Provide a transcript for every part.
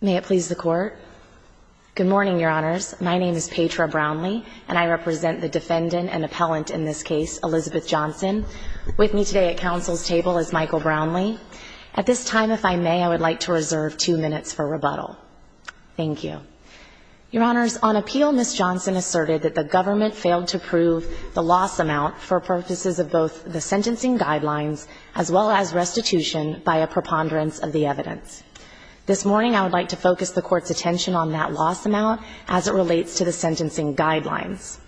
May it please the Court. Good morning, Your Honors. My name is Petra Brownlee, and I represent the defendant and appellant in this case, Elizabeth Johnson. With me today at Council's table is Michael Brownlee. At this time, if I may, I would like to reserve two minutes for rebuttal. Thank you. Your Honors, on appeal, Ms. Johnson asserted that the government failed to prove the loss amount for purposes of both the sentencing guidelines as well as restitution by a preponderance of the evidence. This morning, I would like to focus the Court's attention on that loss amount as it relates to the sentencing guidelines.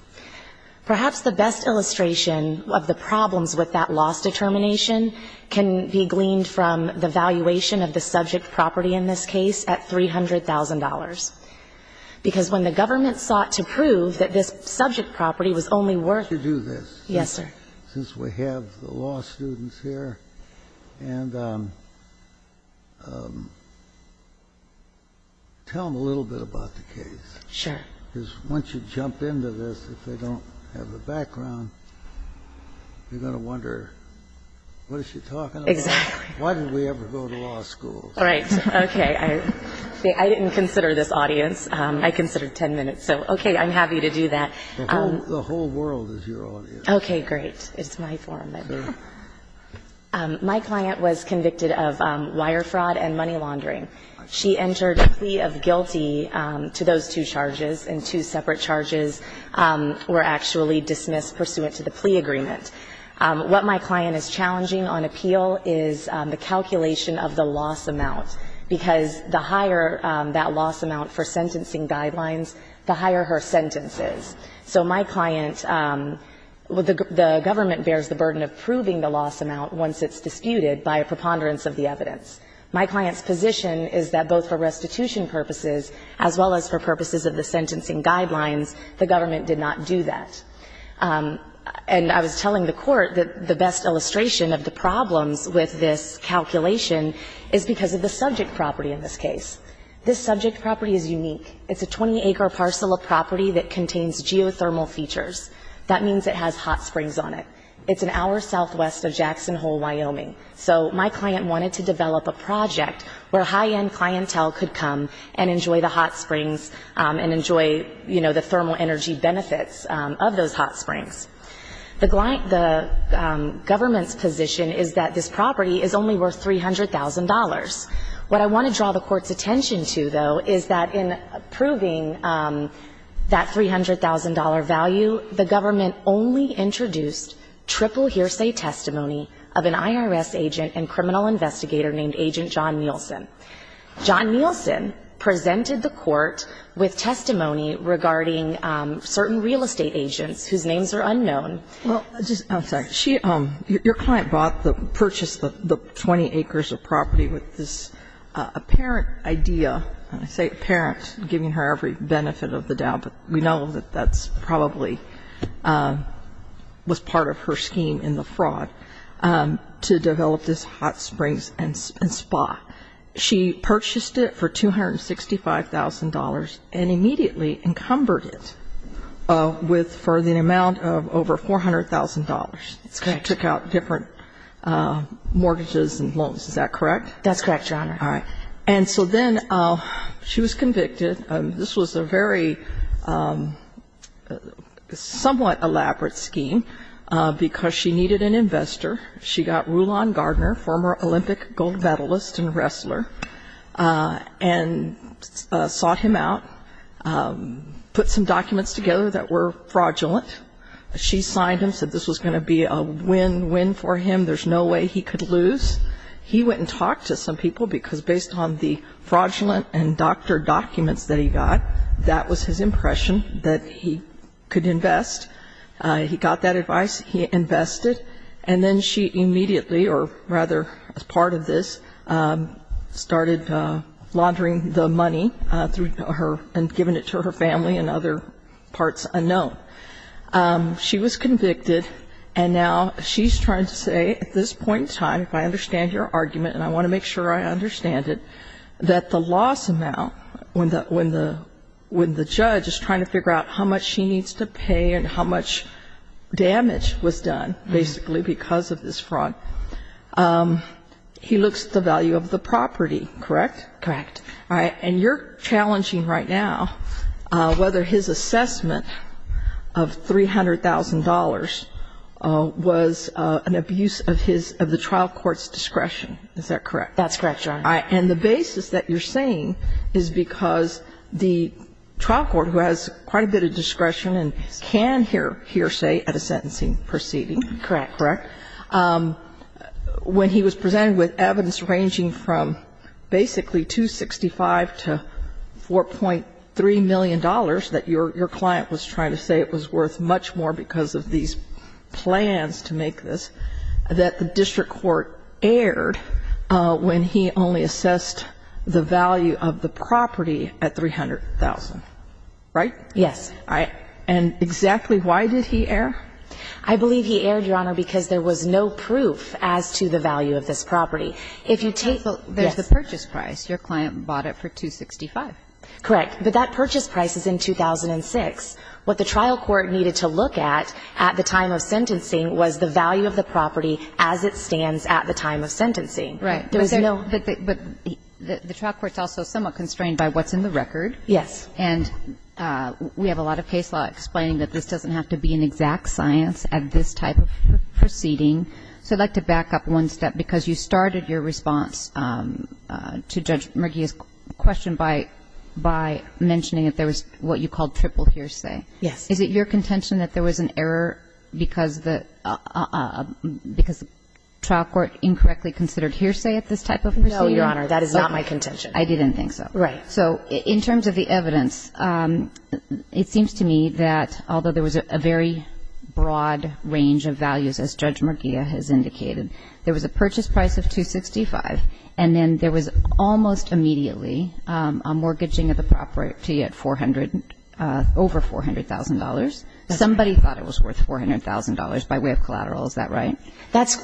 Perhaps the best illustration of the problems with that loss determination can be gleaned from the valuation of the subject property in this case at $300,000. Because when the government sought to prove that this subject property was only worth to do this, since we have the law students here, and tell them a little bit about the case, because once you jump into this, if they don't have a background, they're going to wonder, what is she talking about, why did we ever go to law school. Right, okay, I didn't consider this audience, I considered 10 minutes, so okay, I'm happy to do that. The whole world is your audience. Okay, great, it's my forum then. My client was convicted of wire fraud and money laundering. She entered a plea of guilty to those two charges, and two separate charges were actually dismissed pursuant to the plea agreement. What my client is challenging on appeal is the calculation of the loss amount, because the higher that loss amount for sentencing guidelines, the higher her sentence is. So my client, the government bears the burden of proving the loss amount once it's disputed by a preponderance of the evidence. My client's position is that both for restitution purposes as well as for purposes of the sentencing guidelines, the government did not do that. And I was telling the court that the best illustration of the problems with this calculation is because of the subject property in this case. This subject property is unique. It's a 20-acre parcel of property that contains geothermal features. That means it has hot springs on it. It's an hour southwest of Jackson Hole, Wyoming. So my client wanted to develop a project where high-end clientele could come and enjoy the hot springs and enjoy, you know, the thermal energy benefits of those hot springs. The government's position is that this property is only worth $300,000. What I want to draw the Court's attention to, though, is that in approving that $300,000 value, the government only introduced triple hearsay testimony of an IRS agent and criminal investigator named Agent John Nielsen. John Nielsen presented the Court with testimony regarding certain real estate agents whose names are unknown. Well, just, I'm sorry, she, your client bought the, purchased the 20 acres of property with this apparent idea, and I say apparent, giving her every benefit of the doubt, but we know that that's probably, was part of her scheme in the fraud, to develop this hot springs and spa. She purchased it for $265,000 and immediately encumbered it with, for the amount of over $400,000. That's correct. She took out different mortgages and loans. Is that correct? That's correct, Your Honor. All right. And so then she was convicted. This was a very somewhat elaborate scheme because she needed an investor. She got Rulon Gardner, former Olympic gold medalist and wrestler, and sought him out, put some documents together that were fraudulent. She signed them, said this was going to be a win-win for him. There's no way he could lose. He went and talked to some people because based on the fraudulent and doctored documents that he got, that was his impression that he could invest. He got that advice. He invested. And then she immediately, or rather as part of this, started laundering the money and giving it to her family and other parts unknown. She was convicted. And now she's trying to say, at this point in time, if I understand your argument, and I want to make sure I understand it, that the loss amount, when the judge is trying to figure out how much she needs to pay and how much damage was done basically because of this fraud, he looks at the value of the property, correct? Correct. All right. And you're challenging right now whether his assessment of $300,000 was an abuse of his of the trial court's discretion. Is that correct? That's correct, Your Honor. And the basis that you're saying is because the trial court, who has quite a bit of discretion and can hearsay at a sentencing proceeding, correct, when he was presented with evidence ranging from basically $265 to $4.3 million that your client was trying to say it was worth much more because of these plans to make this, that the district trial court erred when he only assessed the value of the property at $300,000, right? Yes. All right. And exactly why did he err? I believe he erred, Your Honor, because there was no proof as to the value of this property. If you take the purchase price, your client bought it for $265. Correct. But that purchase price is in 2006. What the trial court needed to look at at the time of sentencing was the value of the $265,000 at the time of sentencing. Right. But the trial court's also somewhat constrained by what's in the record. Yes. And we have a lot of case law explaining that this doesn't have to be an exact science at this type of proceeding. So I'd like to back up one step, because you started your response to Judge Murgi's question by mentioning that there was what you called triple hearsay. Yes. Is it your contention that there was an error because the trial court incorrectly considered hearsay at this type of proceeding? No, Your Honor. That is not my contention. I didn't think so. Right. So in terms of the evidence, it seems to me that although there was a very broad range of values, as Judge Murgia has indicated, there was a purchase price of $265,000, and then there was almost immediately a mortgaging of the property at over $400,000. Somebody thought it was worth $400,000 by way of collateral. Is that right?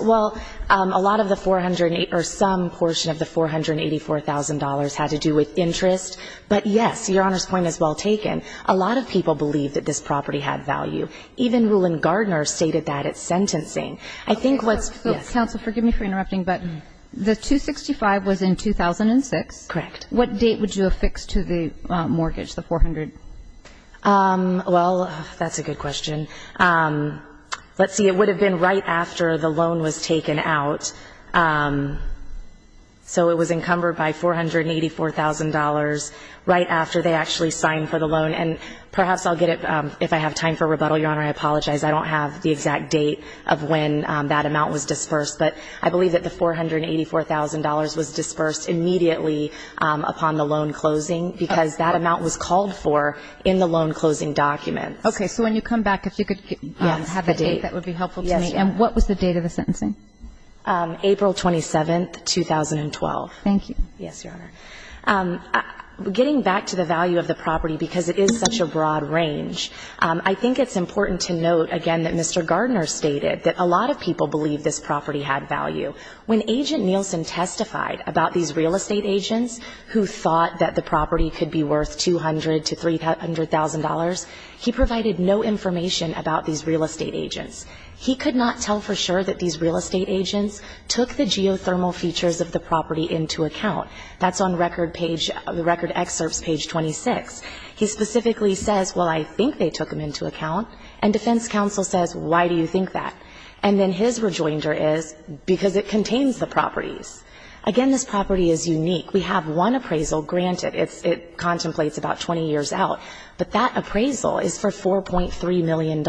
Well, a lot of the $484,000 or some portion of the $484,000 had to do with interest. But yes, Your Honor's point is well taken. A lot of people believed that this property had value. Even Rulon Gardner stated that at sentencing. I think what's – The $265,000 was in 2006. Correct. What date would you affix to the mortgage, the $400,000? Well, that's a good question. Let's see. It would have been right after the loan was taken out. So it was encumbered by $484,000 right after they actually signed for the loan. And perhaps I'll get it – if I have time for rebuttal, Your Honor, I apologize. I don't have the exact date of when that amount was disbursed. But I believe that the $484,000 was disbursed immediately upon the loan closing because that amount was called for in the loan closing document. Okay. So when you come back, if you could have the date, that would be helpful to me. Yes. And what was the date of the sentencing? April 27, 2012. Thank you. Yes, Your Honor. Getting back to the value of the property because it is such a broad range, I think it's important to note, again, that Mr. Gardner stated that a lot of people believe this property had value. When Agent Nielsen testified about these real estate agents who thought that the property could be worth $200,000 to $300,000, he provided no information about these real estate agents. He could not tell for sure that these real estate agents took the geothermal features of the property into account. That's on record page – the record excerpts, page 26. He specifically says, well, I think they took them into account. And defense counsel says, why do you think that? And then his rejoinder is, because it contains the properties. Again, this property is unique. We have one appraisal, granted, it contemplates about 20 years out, but that appraisal is for $4.3 million.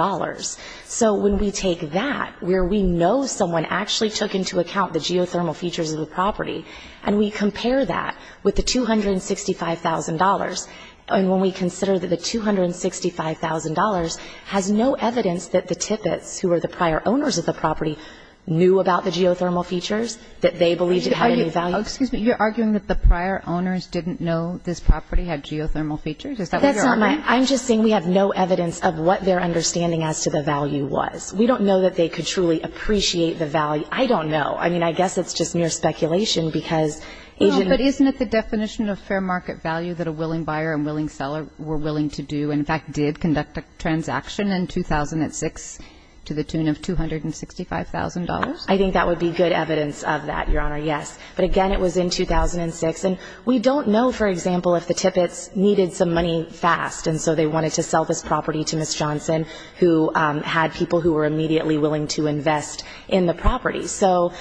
So when we take that, where we know someone actually took into account the geothermal features of the property, and we compare that with the $265,000, and when we consider that the $265,000 has no evidence that the tippets, who were the prior owners of the property, knew about the geothermal features, that they believed it had any value. Excuse me, you're arguing that the prior owners didn't know this property had geothermal Is that what you're arguing? That's not my – I'm just saying we have no evidence of what their understanding as to the value was. We don't know that they could truly appreciate the value. I don't know. I mean, I guess it's just mere speculation, because Agent – No, but isn't it the definition of fair market value that a willing buyer and willing to do – in fact, did conduct a transaction in 2006 to the tune of $265,000? I think that would be good evidence of that, Your Honor, yes. But again, it was in 2006, and we don't know, for example, if the tippets needed some money fast, and so they wanted to sell this property to Ms. Johnson, who had people who were immediately willing to invest in the property. So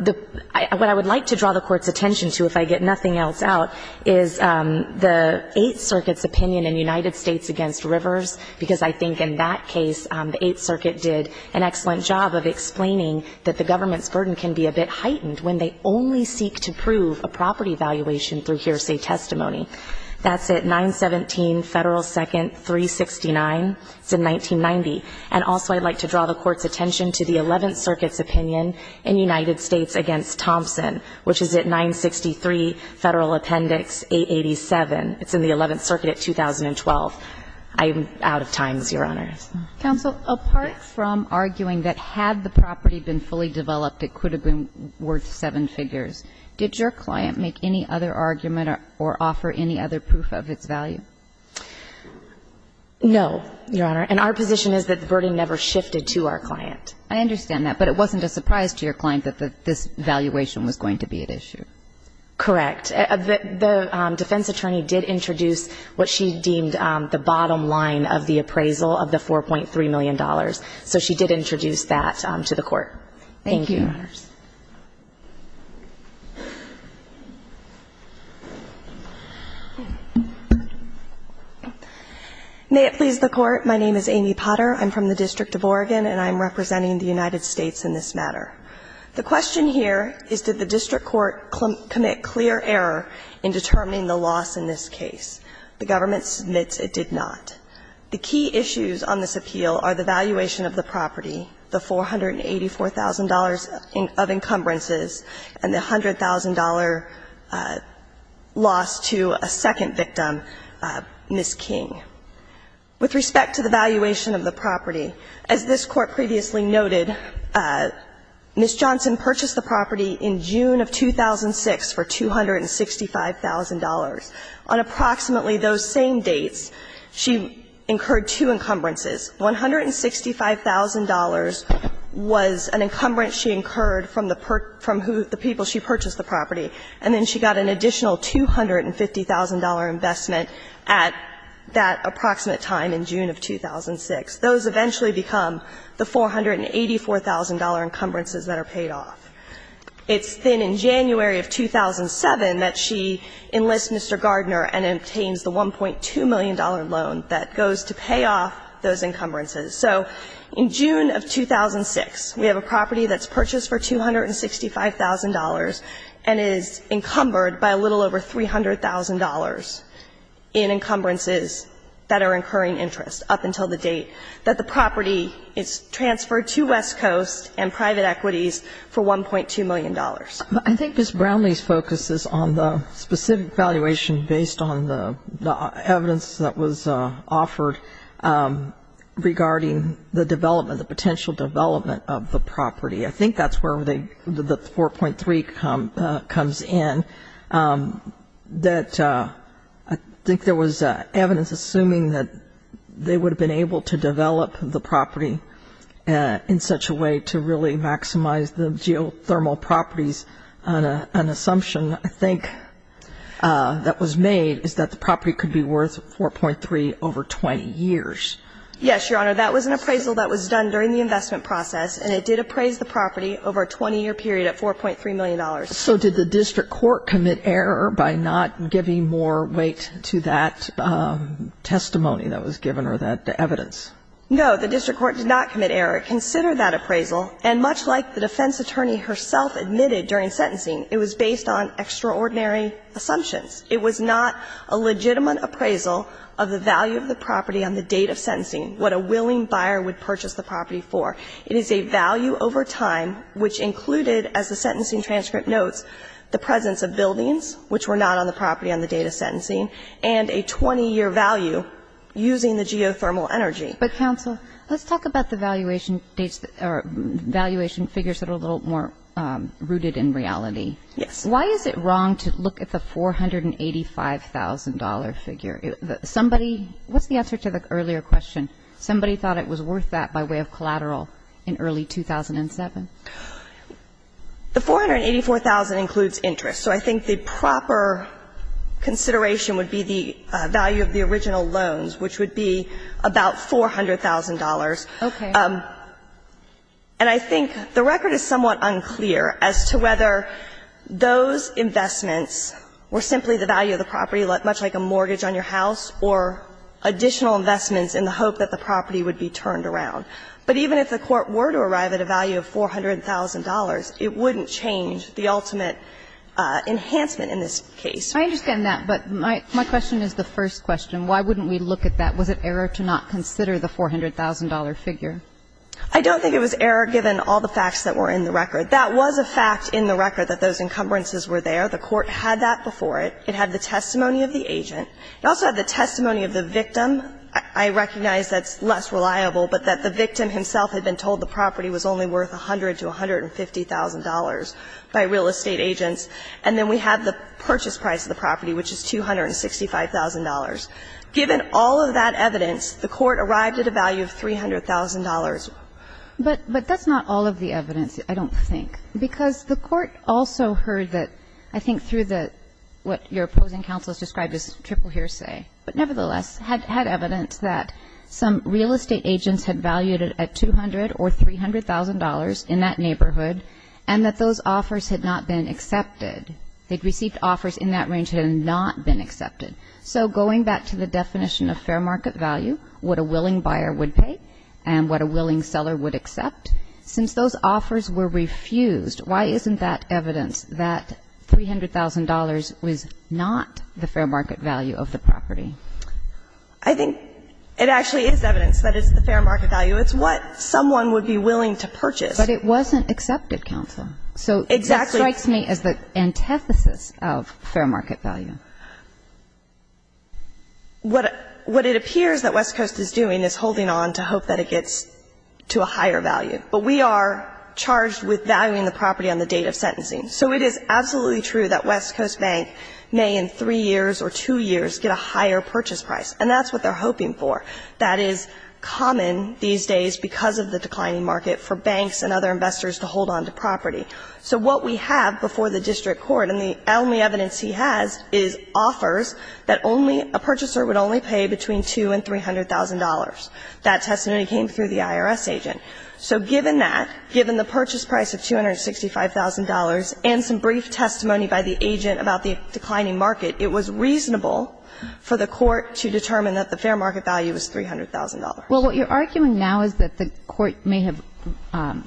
the – what I would like to draw the Court's attention to, if I get nothing else out, is the Eighth Circuit's opinion in United States against Rivers, because I think in that case, the Eighth Circuit did an excellent job of explaining that the government's burden can be a bit heightened when they only seek to prove a property valuation through hearsay testimony. That's at 917 Federal 2nd 369, it's in 1990. And also I'd like to draw the Court's attention to the Eleventh Circuit's opinion in United States against Thompson, which is at 963 Federal Appendix 887. It's in the Eleventh Circuit at 2012. I'm out of times, Your Honor. Counsel, apart from arguing that had the property been fully developed, it could have been worth seven figures, did your client make any other argument or offer any other proof of its value? No, Your Honor. And our position is that the burden never shifted to our client. I understand that, but it wasn't a surprise to your client that this valuation was going to be at issue. Correct. The defense attorney did introduce what she deemed the bottom line of the appraisal of the $4.3 million. So she did introduce that to the Court. Thank you. Thank you, Your Honors. May it please the Court. My name is Amy Potter. I'm from the District of Oregon, and I'm representing the United States in this matter. The question here is did the District Court commit clear error in determining the loss in this case? The government submits it did not. The key issues on this appeal are the valuation of the property, the $484,000 of encumbrances, and the $100,000 loss to a second victim, Ms. King. With respect to the valuation of the property, as this Court previously noted, Ms. Johnson purchased the property in June of 2006 for $265,000. On approximately those same dates, she incurred two encumbrances. $165,000 was an encumbrance she incurred from the people she purchased the property. And then she got an additional $250,000 investment at that approximate time in June of 2006. Those eventually become the $484,000 encumbrances that are paid off. It's then in January of 2007 that she enlists Mr. Gardner and obtains the $1.2 million loan that goes to pay off those encumbrances. So in June of 2006, we have a property that's purchased for $265,000 and is encumbered by a little over $300,000 in encumbrances that are incurring interest up until the date that the property is transferred to West Coast and private equities for $1.2 million. I think Ms. Brownlee's focus is on the specific valuation based on the evidence that was offered regarding the development, the potential development of the property. I think that's where the 4.3 comes in. That I think there was evidence assuming that they would have been able to develop the property in such a way to really maximize the geothermal properties. An assumption I think that was made is that the property could be worth 4.3 over 20 years. Yes, Your Honor. That was an appraisal that was done during the investment process, and it did appraise the property over a 20-year period at $4.3 million. So did the district court commit error by not giving more weight to that testimony that was given or that evidence? No, the district court did not commit error. It considered that appraisal, and much like the defense attorney herself admitted during sentencing, it was based on extraordinary assumptions. It was not a legitimate appraisal of the value of the property on the date of sentencing, what a willing buyer would purchase the property for. It is a value over time, which included, as the sentencing transcript notes, the presence of buildings, which were not on the property on the date of sentencing, and a 20-year value using the geothermal energy. But, counsel, let's talk about the valuation dates or valuation figures that are a little more rooted in reality. Yes. Why is it wrong to look at the $485,000 figure? Somebody – what's the answer to the earlier question? Somebody thought it was worth that by way of collateral in early 2007. The $484,000 includes interest. So I think the proper consideration would be the value of the original loans, which would be about $400,000. Okay. And I think the record is somewhat unclear as to whether those investments were simply the value of the property, much like a mortgage on your house, or additional investments in the hope that the property would be turned around. But even if the Court were to arrive at a value of $400,000, it wouldn't change the ultimate enhancement in this case. I understand that, but my question is the first question. Why wouldn't we look at that? Was it error to not consider the $400,000 figure? I don't think it was error, given all the facts that were in the record. That was a fact in the record, that those encumbrances were there. The Court had that before it. It had the testimony of the agent. It also had the testimony of the victim. I recognize that's less reliable, but that the victim himself had been told the property was only worth $100,000 to $150,000 by real estate agents. And then we have the purchase price of the property, which is $265,000. Given all of that evidence, the Court arrived at a value of $300,000. But that's not all of the evidence, I don't think, because the Court also heard that, I think through the what your opposing counsel has described as triple hearsay, but nevertheless had evidence that some real estate agents had valued it at $200,000 or $300,000 in that neighborhood, and that those offers had not been accepted. They had received offers in that range that had not been accepted. So going back to the definition of fair market value, what a willing buyer would pay and what a willing seller would accept, since those offers were refused, why isn't that evidence that $300,000 was not the fair market value of the property? I think it actually is evidence that it's the fair market value. It's what someone would be willing to purchase. But it wasn't accepted, counsel. Exactly. So it strikes me as the antithesis of fair market value. What it appears that West Coast is doing is holding on to hope that it gets to a higher value, but we are charged with valuing the property on the date of sentencing. So it is absolutely true that West Coast Bank may in three years or two years get a higher purchase price, and that's what they're hoping for. That is common these days because of the declining market for banks and other investors to hold on to property. So what we have before the district court, and the only evidence he has, is offers that only a purchaser would only pay between $200,000 and $300,000. That testimony came through the IRS agent. So given that, given the purchase price of $265,000 and some brief testimony by the agent about the declining market, it was reasonable for the court to determine that the fair market value was $300,000. Well, what you're arguing now is that the court may have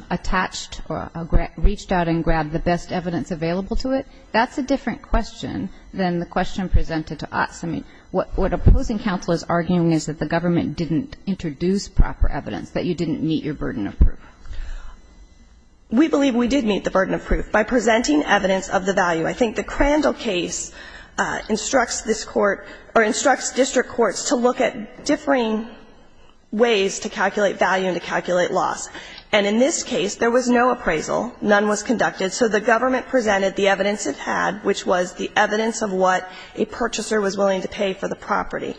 attached or reached out and grabbed the best evidence available to it. That's a different question than the question presented to us. I mean, what opposing counsel is arguing is that the government didn't introduce proper evidence, that you didn't meet your burden of proof. We believe we did meet the burden of proof by presenting evidence of the value. I think the Crandall case instructs this court or instructs district courts to look at differing ways to calculate value and to calculate loss. And in this case, there was no appraisal. None was conducted. So the government presented the evidence it had, which was the evidence of what a purchaser was willing to pay for the property.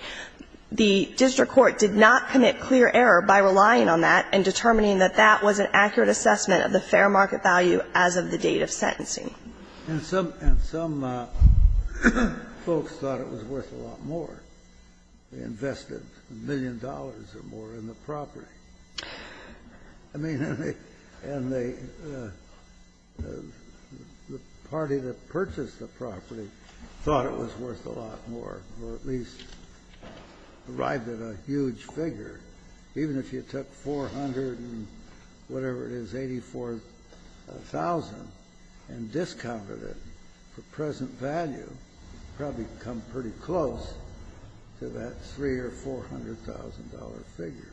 The district court did not commit clear error by relying on that and determining that that was an accurate assessment of the fair market value as of the date of sentencing. And some folks thought it was worth a lot more. They invested a million dollars or more in the property. I mean, and the party that purchased the property thought it was worth a lot more or at least arrived at a huge figure. Even if you took 400 and whatever it is, 84,000, and discounted it for present value, you'd probably come pretty close to that $300,000 or $400,000 figure.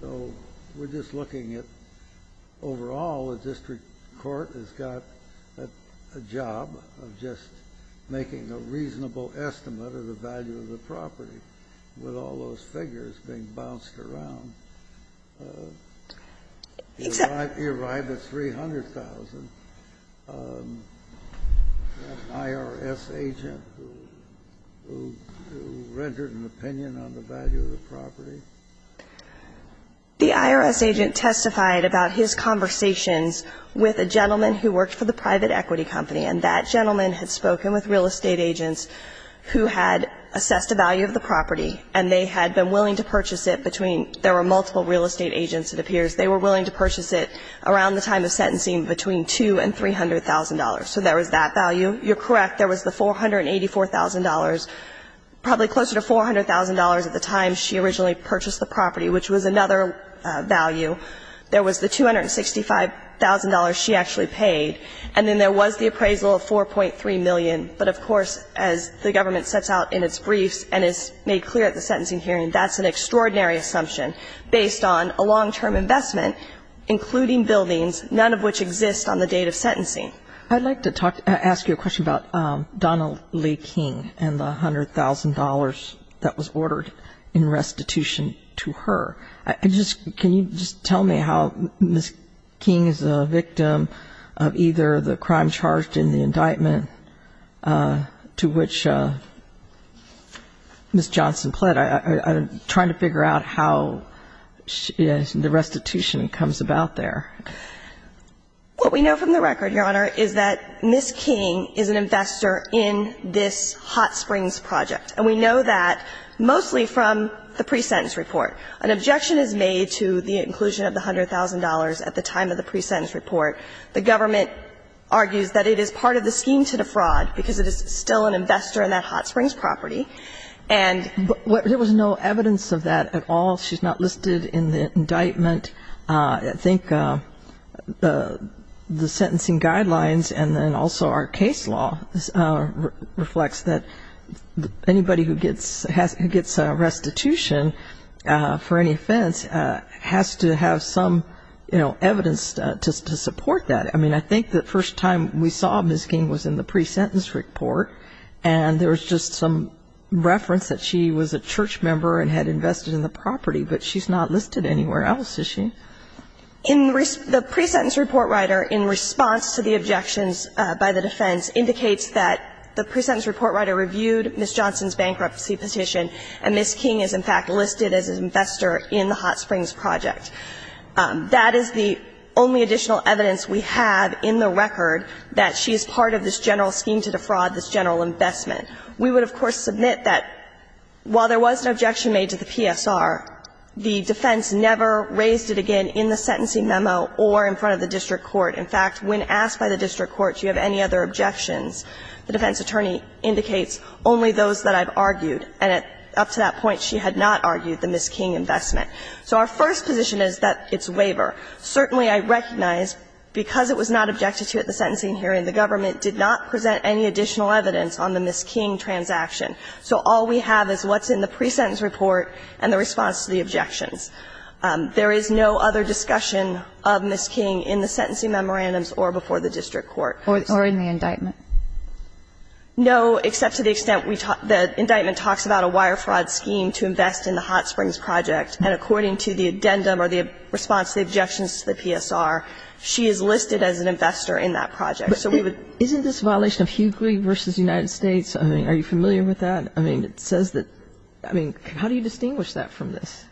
So we're just looking at overall the district court has got a job of just making a reasonable estimate of the value of the property with all those figures being bounced around. It arrived at 300,000. An IRS agent who rendered an opinion on the value of the property? The IRS agent testified about his conversations with a gentleman who worked for the real estate agents who had assessed the value of the property, and they had been willing to purchase it between – there were multiple real estate agents, it appears – they were willing to purchase it around the time of sentencing between $200,000 and $300,000. So there was that value. You're correct. There was the $484,000, probably closer to $400,000 at the time she originally purchased the property, which was another value. There was the $265,000 she actually paid. And then there was the appraisal of $4.3 million. But, of course, as the government sets out in its briefs and is made clear at the sentencing hearing, that's an extraordinary assumption based on a long-term investment, including buildings, none of which exist on the date of sentencing. I'd like to talk – ask you a question about Donna Lee King and the $100,000 that was ordered in restitution to her. Can you just tell me how Ms. King is a victim of either the crime charged in the indictment to which Ms. Johnson pled? I'm trying to figure out how the restitution comes about there. What we know from the record, Your Honor, is that Ms. King is an investor in this Hot Springs project. And we know that mostly from the pre-sentence report. An objection is made to the inclusion of the $100,000 at the time of the pre-sentence report. The government argues that it is part of the scheme to defraud because it is still an investor in that Hot Springs property. And what – There was no evidence of that at all. She's not listed in the indictment. I think the sentencing guidelines and then also our case law reflects that anybody who gets restitution for any offense has to have some, you know, evidence to support that. I mean, I think the first time we saw Ms. King was in the pre-sentence report. And there was just some reference that she was a church member and had invested in the property. But she's not listed anywhere else, is she? The pre-sentence report, Ryder, in response to the objections by the defense, indicates that the pre-sentence report, Ryder, reviewed Ms. Johnson's bankruptcy petition, and Ms. King is in fact listed as an investor in the Hot Springs project. That is the only additional evidence we have in the record that she is part of this general scheme to defraud, this general investment. We would, of course, submit that while there was an objection made to the PSR, the defense never raised it again in the sentencing memo or in front of the district court. In fact, when asked by the district court, do you have any other objections, the defense attorney indicates only those that I've argued. And up to that point, she had not argued the Ms. King investment. So our first position is that it's waiver. Certainly, I recognize because it was not objected to at the sentencing hearing, the government did not present any additional evidence on the Ms. King transaction. So all we have is what's in the pre-sentence report and the response to the objections. There is no other discussion of Ms. King in the sentencing memorandums or before the district court. Or in the indictment. No, except to the extent we talk the indictment talks about a wire fraud scheme to invest in the Hot Springs project. And according to the addendum or the response, the objections to the PSR, she is listed as an investor in that project. Isn't this a violation of Hughley v. United States? I mean, are you familiar with that? I mean, it says that, I mean, how do you distinguish that from this?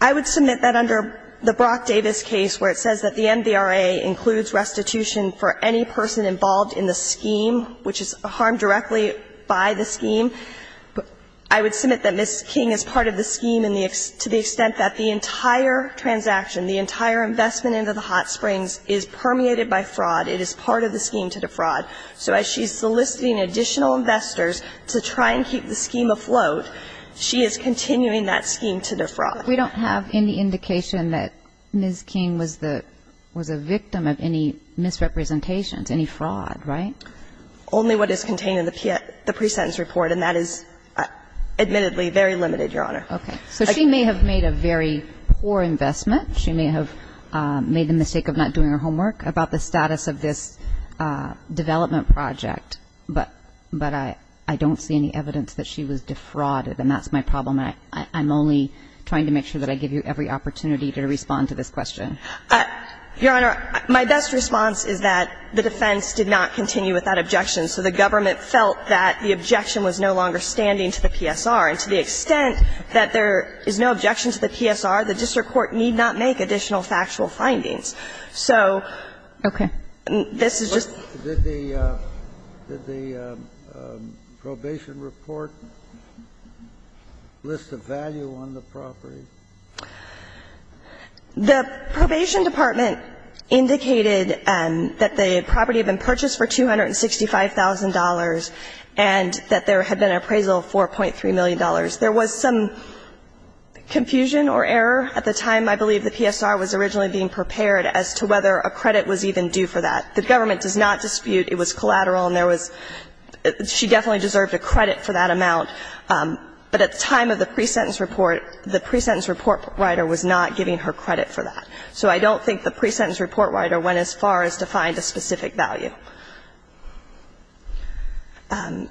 I would submit that under the Brock Davis case where it says that the MVRA includes restitution for any person involved in the scheme, which is a harm directly by the scheme, I would submit that Ms. King is part of the scheme to the extent that the entire transaction, the entire investment into the Hot Springs is permeated by fraud. It is part of the scheme to defraud. So as she's soliciting additional investors to try and keep the scheme afloat, she is continuing that scheme to defraud. We don't have any indication that Ms. King was the, was a victim of any misrepresentations, any fraud, right? Only what is contained in the pre-sentence report. And that is admittedly very limited, Your Honor. Okay. So she may have made a very poor investment. She may have made the mistake of not doing her homework about the status of this development project. But I don't see any evidence that she was defrauded. And that's my problem. I'm only trying to make sure that I give you every opportunity to respond to this question. Your Honor, my best response is that the defense did not continue with that objection. So the government felt that the objection was no longer standing to the PSR. And to the extent that there is no objection to the PSR, the district court need not make additional factual findings. So this is just the question. Did the probation report list a value on the property? The probation department indicated that the property had been purchased for $265,000 and that there had been an appraisal of $4.3 million. There was some confusion or error at the time. I believe the PSR was originally being prepared as to whether a credit was even due for that. The government does not dispute. It was collateral and there was – she definitely deserved a credit for that amount. But at the time of the pre-sentence report, the pre-sentence report writer was not giving her credit for that. So I don't think the pre-sentence report writer went as far as to find a specific value.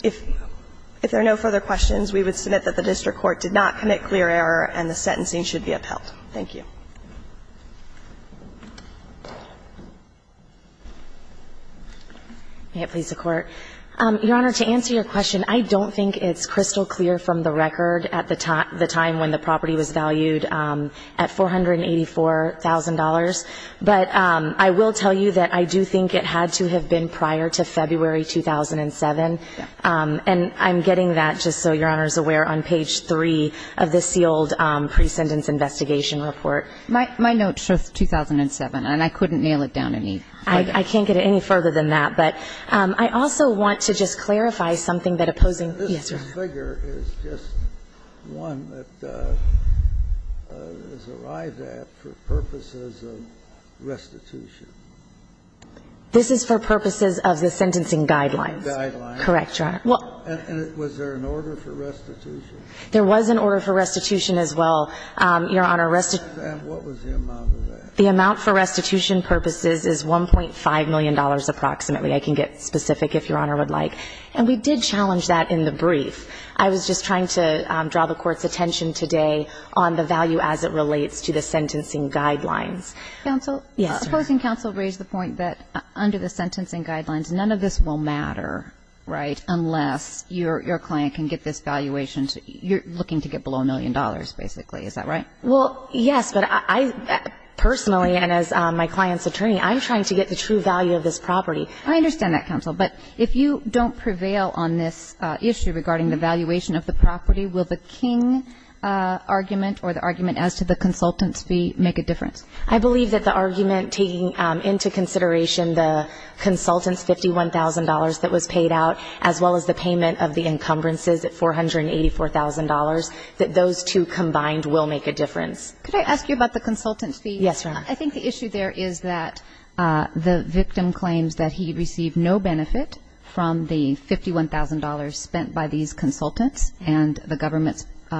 If there are no further questions, we would submit that the district court did not commit clear error and the sentencing should be upheld. Thank you. May it please the Court. Your Honor, to answer your question, I don't think it's crystal clear from the record at the time when the property was valued at $484,000. But I will tell you that I do think it had to have been prior to February 2007. And I'm getting that just so Your Honor is aware on page 3 of the sealed pre-sentence investigation report. My note shows 2007. And I couldn't nail it down any further. I can't get any further than that. But I also want to just clarify something that opposing – yes, Your Honor. This figure is just one that has arrived at for purposes of restitution. This is for purposes of the sentencing guidelines. Guidelines. Correct, Your Honor. And was there an order for restitution? There was an order for restitution as well. Your Honor, restitution – And what was the amount of that? The amount for restitution purposes is $1.5 million approximately. I can get specific if Your Honor would like. And we did challenge that in the brief. I was just trying to draw the Court's attention today on the value as it relates to the sentencing guidelines. Counsel? Yes. Opposing counsel raised the point that under the sentencing guidelines, none of this will matter, right, unless your client can get this valuation to – you're looking to get below $1 million, basically. Is that right? Well, yes. But I – personally and as my client's attorney, I'm trying to get the true value of this property. I understand that, counsel. But if you don't prevail on this issue regarding the valuation of the property, will the King argument or the argument as to the consultant's fee make a difference? I believe that the argument taking into consideration the consultant's $51,000 that was paid out, as well as the payment of the encumbrances at $484,000, that those two combined will make a difference. Could I ask you about the consultant's fee? Yes, Your Honor. I think the issue there is that the victim claims that he received no benefit from the $51,000 spent by these consultants and the government's –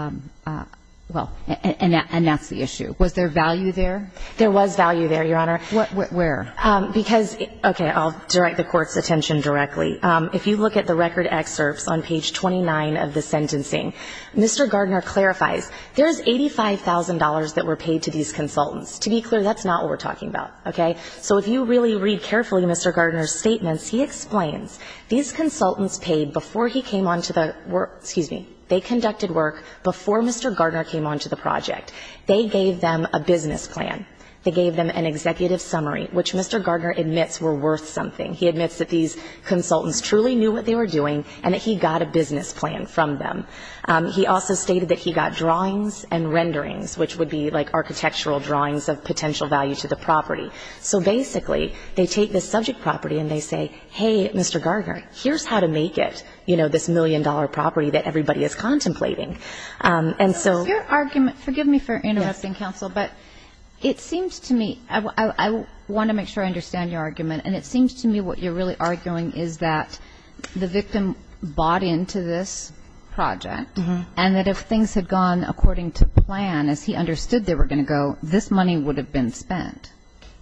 well, and that's the issue. Was there value there? There was value there, Your Honor. Where? Because – okay. I'll direct the Court's attention directly. If you look at the record excerpts on page 29 of the sentencing, Mr. Gardner clarifies there is $85,000 that were paid to these consultants. To be clear, that's not what we're talking about, okay? So if you really read carefully Mr. Gardner's statements, he explains these consultants paid before he came on to the – excuse me, they conducted work before Mr. Gardner came on to the project. They gave them a business plan. They gave them an executive summary, which Mr. Gardner admits were worth something. He admits that these consultants truly knew what they were doing and that he got a business plan from them. He also stated that he got drawings and renderings, which would be like architectural drawings of potential value to the property. So basically, they take this subject property and they say, hey, Mr. Gardner, here's how to make it, you know, this million-dollar property that everybody is contemplating. And so – Your argument – forgive me for interrupting, Counsel, but it seems to me – I want to make sure I understand your argument. And it seems to me what you're really arguing is that the victim bought into this project and that if things had gone according to plan, as he understood they were going to go, this money would have been spent.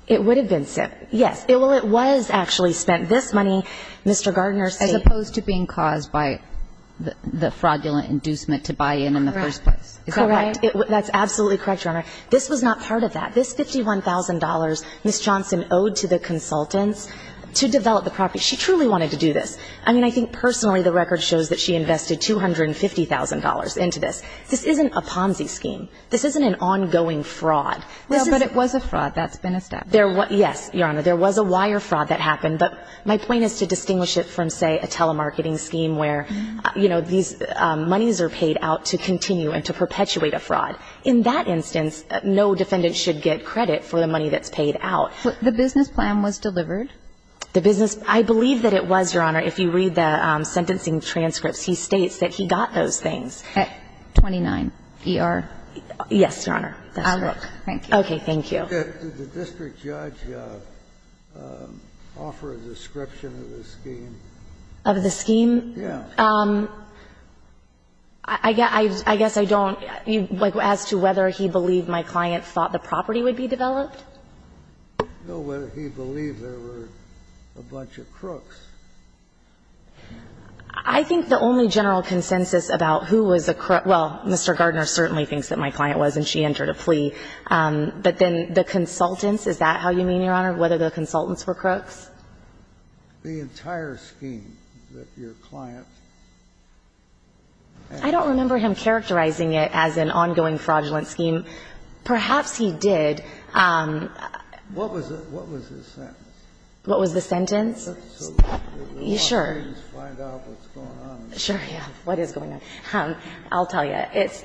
It would have been spent, yes. Well, it was actually spent. This money, Mr. Gardner – As opposed to being caused by the fraudulent inducement to buy in in the first place. Correct. That's absolutely correct, Your Honor. This was not part of that. This $51,000, Ms. Johnson owed to the consultants to develop the property. She truly wanted to do this. I mean, I think personally the record shows that she invested $250,000 into this. This isn't a POMSE scheme. This isn't an ongoing fraud. No, but it was a fraud. That's been established. Yes, Your Honor. There was a wire fraud that happened. But my point is to distinguish it from, say, a telemarketing scheme where, you know, these monies are paid out to continue and to perpetuate a fraud. In that instance, no defendant should get credit for the money that's paid out. The business plan was delivered? The business – I believe that it was, Your Honor. If you read the sentencing transcripts, he states that he got those things. At 29 ER? Yes, Your Honor. I'll look. Thank you. Okay. Thank you. Did the district judge offer a description of the scheme? Of the scheme? Yes. I guess I don't. As to whether he believed my client thought the property would be developed? No, whether he believed there were a bunch of crooks. I think the only general consensus about who was a crook – well, Mr. Gardner certainly thinks that my client was, and she entered a plea. But then the consultants, is that how you mean, Your Honor, whether the consultants were crooks? The entire scheme that your client had? I don't remember him characterizing it as an ongoing fraudulent scheme. Perhaps he did. What was his sentence? What was the sentence? So the lawyers find out what's going on. Sure, yeah. What is going on? I'll tell you.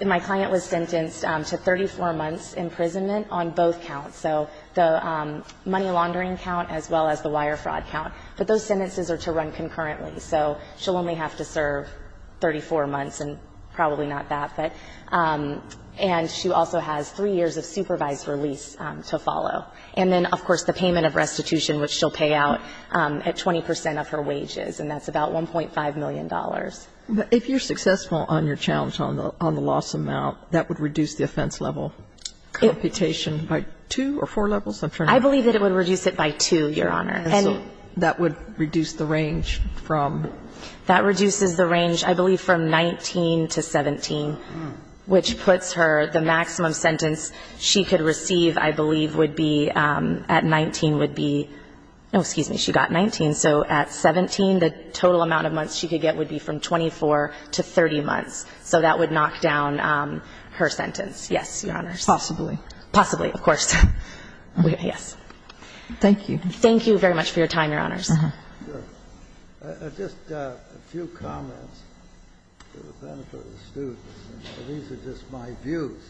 My client was sentenced to 34 months' imprisonment on both counts, so the money that she was charged with was the entire fraud count. But those sentences are to run concurrently, so she'll only have to serve 34 months and probably not that. And she also has three years of supervised release to follow. And then, of course, the payment of restitution, which she'll pay out at 20 percent of her wages, and that's about $1.5 million. But if you're successful on your challenge on the loss amount, that would reduce the offense level computation by two or four levels? I'm trying to remember. I believe that it would reduce it by two, Your Honor. And that would reduce the range from? That reduces the range, I believe, from 19 to 17, which puts her, the maximum sentence she could receive, I believe, would be at 19 would be no, excuse me, she got 19. So at 17, the total amount of months she could get would be from 24 to 30 months. So that would knock down her sentence. Yes, Your Honors. Possibly. Possibly, of course. Yes. Thank you. Thank you very much for your time, Your Honors. Just a few comments for the benefit of the students. These are just my views.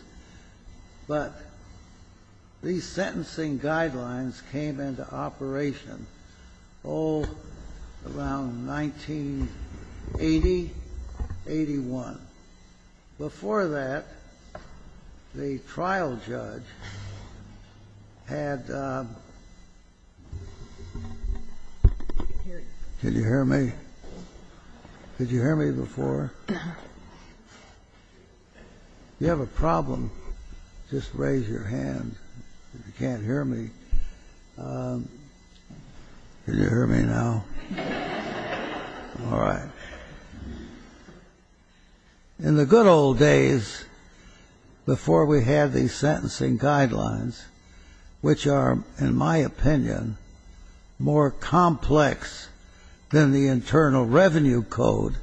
But these sentencing guidelines came into operation, oh, around 1980, 81. Before that, the trial judge had the ---- Can you hear me? Could you hear me before? If you have a problem, just raise your hand if you can't hear me. Can you hear me now? All right. In the good old days before we had these sentencing guidelines, which are, in my opinion, more complex than the Internal Revenue Code,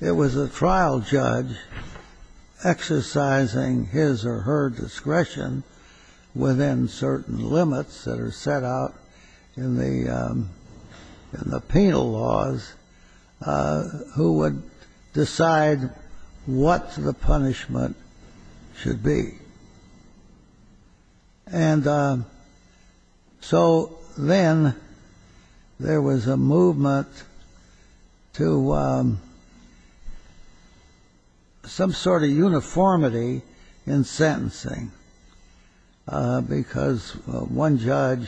it was a trial judge exercising his or her discretion within certain limits that are set out in the penal laws who would decide what the punishment should be. And so then there was a movement to some sort of uniformity in sentencing because one judge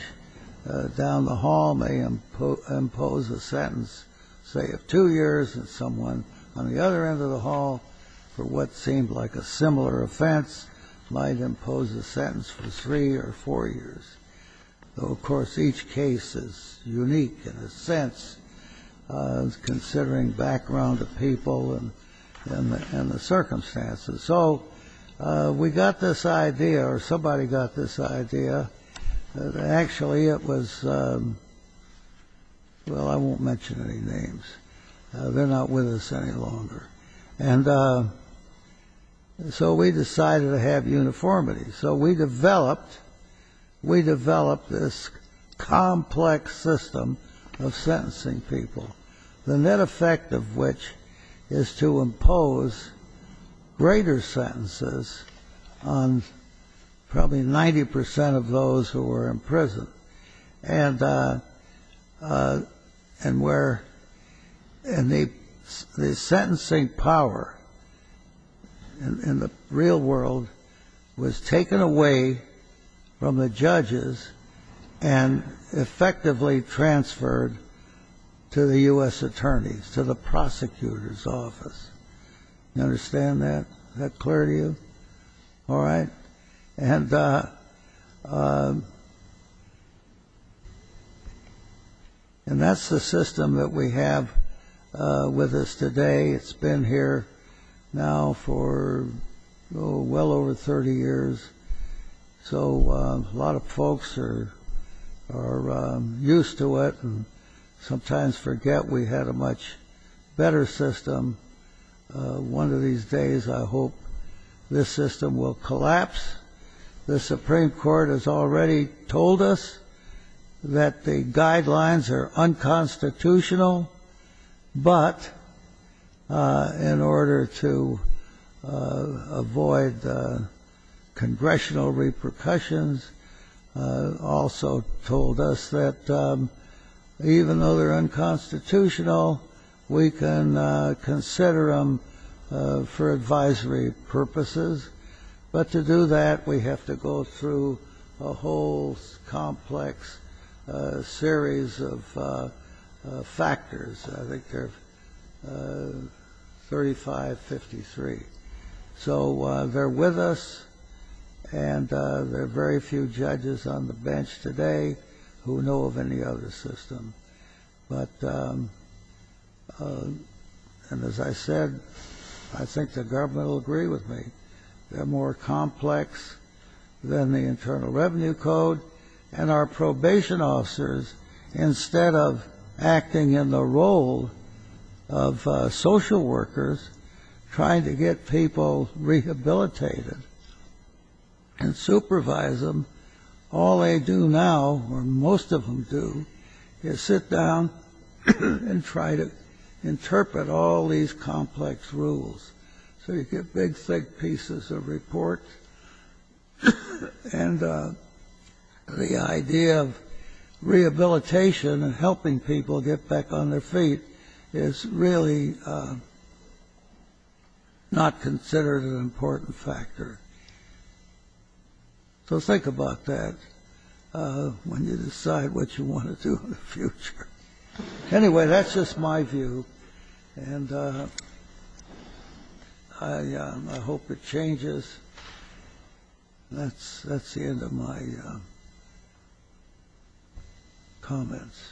down the hall may impose a sentence, say, of two years, and someone on the other end of the hall, for what seemed like a similar offense, might impose a sentence for three or four years. Though, of course, each case is unique in a sense, considering background of people and the circumstances. So we got this idea, or somebody got this idea, that actually it was ---- Well, I won't mention any names. They're not with us any longer. And so we decided to have uniformity. So we developed this complex system of sentencing people, the net effect of which is to impose greater sentences on probably 90 percent of those who were in prison. And where the sentencing power in the real world was taken away from the judges and effectively transferred to the U.S. attorneys, to the prosecutor's office. You understand that? Is that clear to you? All right. And that's the system that we have with us today. It's been here now for well over 30 years. So a lot of folks are used to it and sometimes forget we had a much better system. One of these days I hope this system will collapse. The Supreme Court has already told us that the guidelines are unconstitutional. But in order to avoid congressional repercussions, also told us that even though they're unconstitutional, we can consider them for advisory purposes. But to do that, we have to go through a whole complex series of factors. I think they're 35-53. So they're with us and there are very few judges on the bench today who know of any other system. But, and as I said, I think the government will agree with me. They're more complex than the Internal Revenue Code. And our probation officers, instead of acting in the role of social workers, trying to get people rehabilitated and supervise them, all they do now, or most of them do, is sit in jail. Sit down and try to interpret all these complex rules. So you get big, thick pieces of report. And the idea of rehabilitation and helping people get back on their feet is really not considered an important factor. So think about that when you decide what you want to do in the future. Anyway, that's just my view, and I hope it changes. And that's the end of my comments.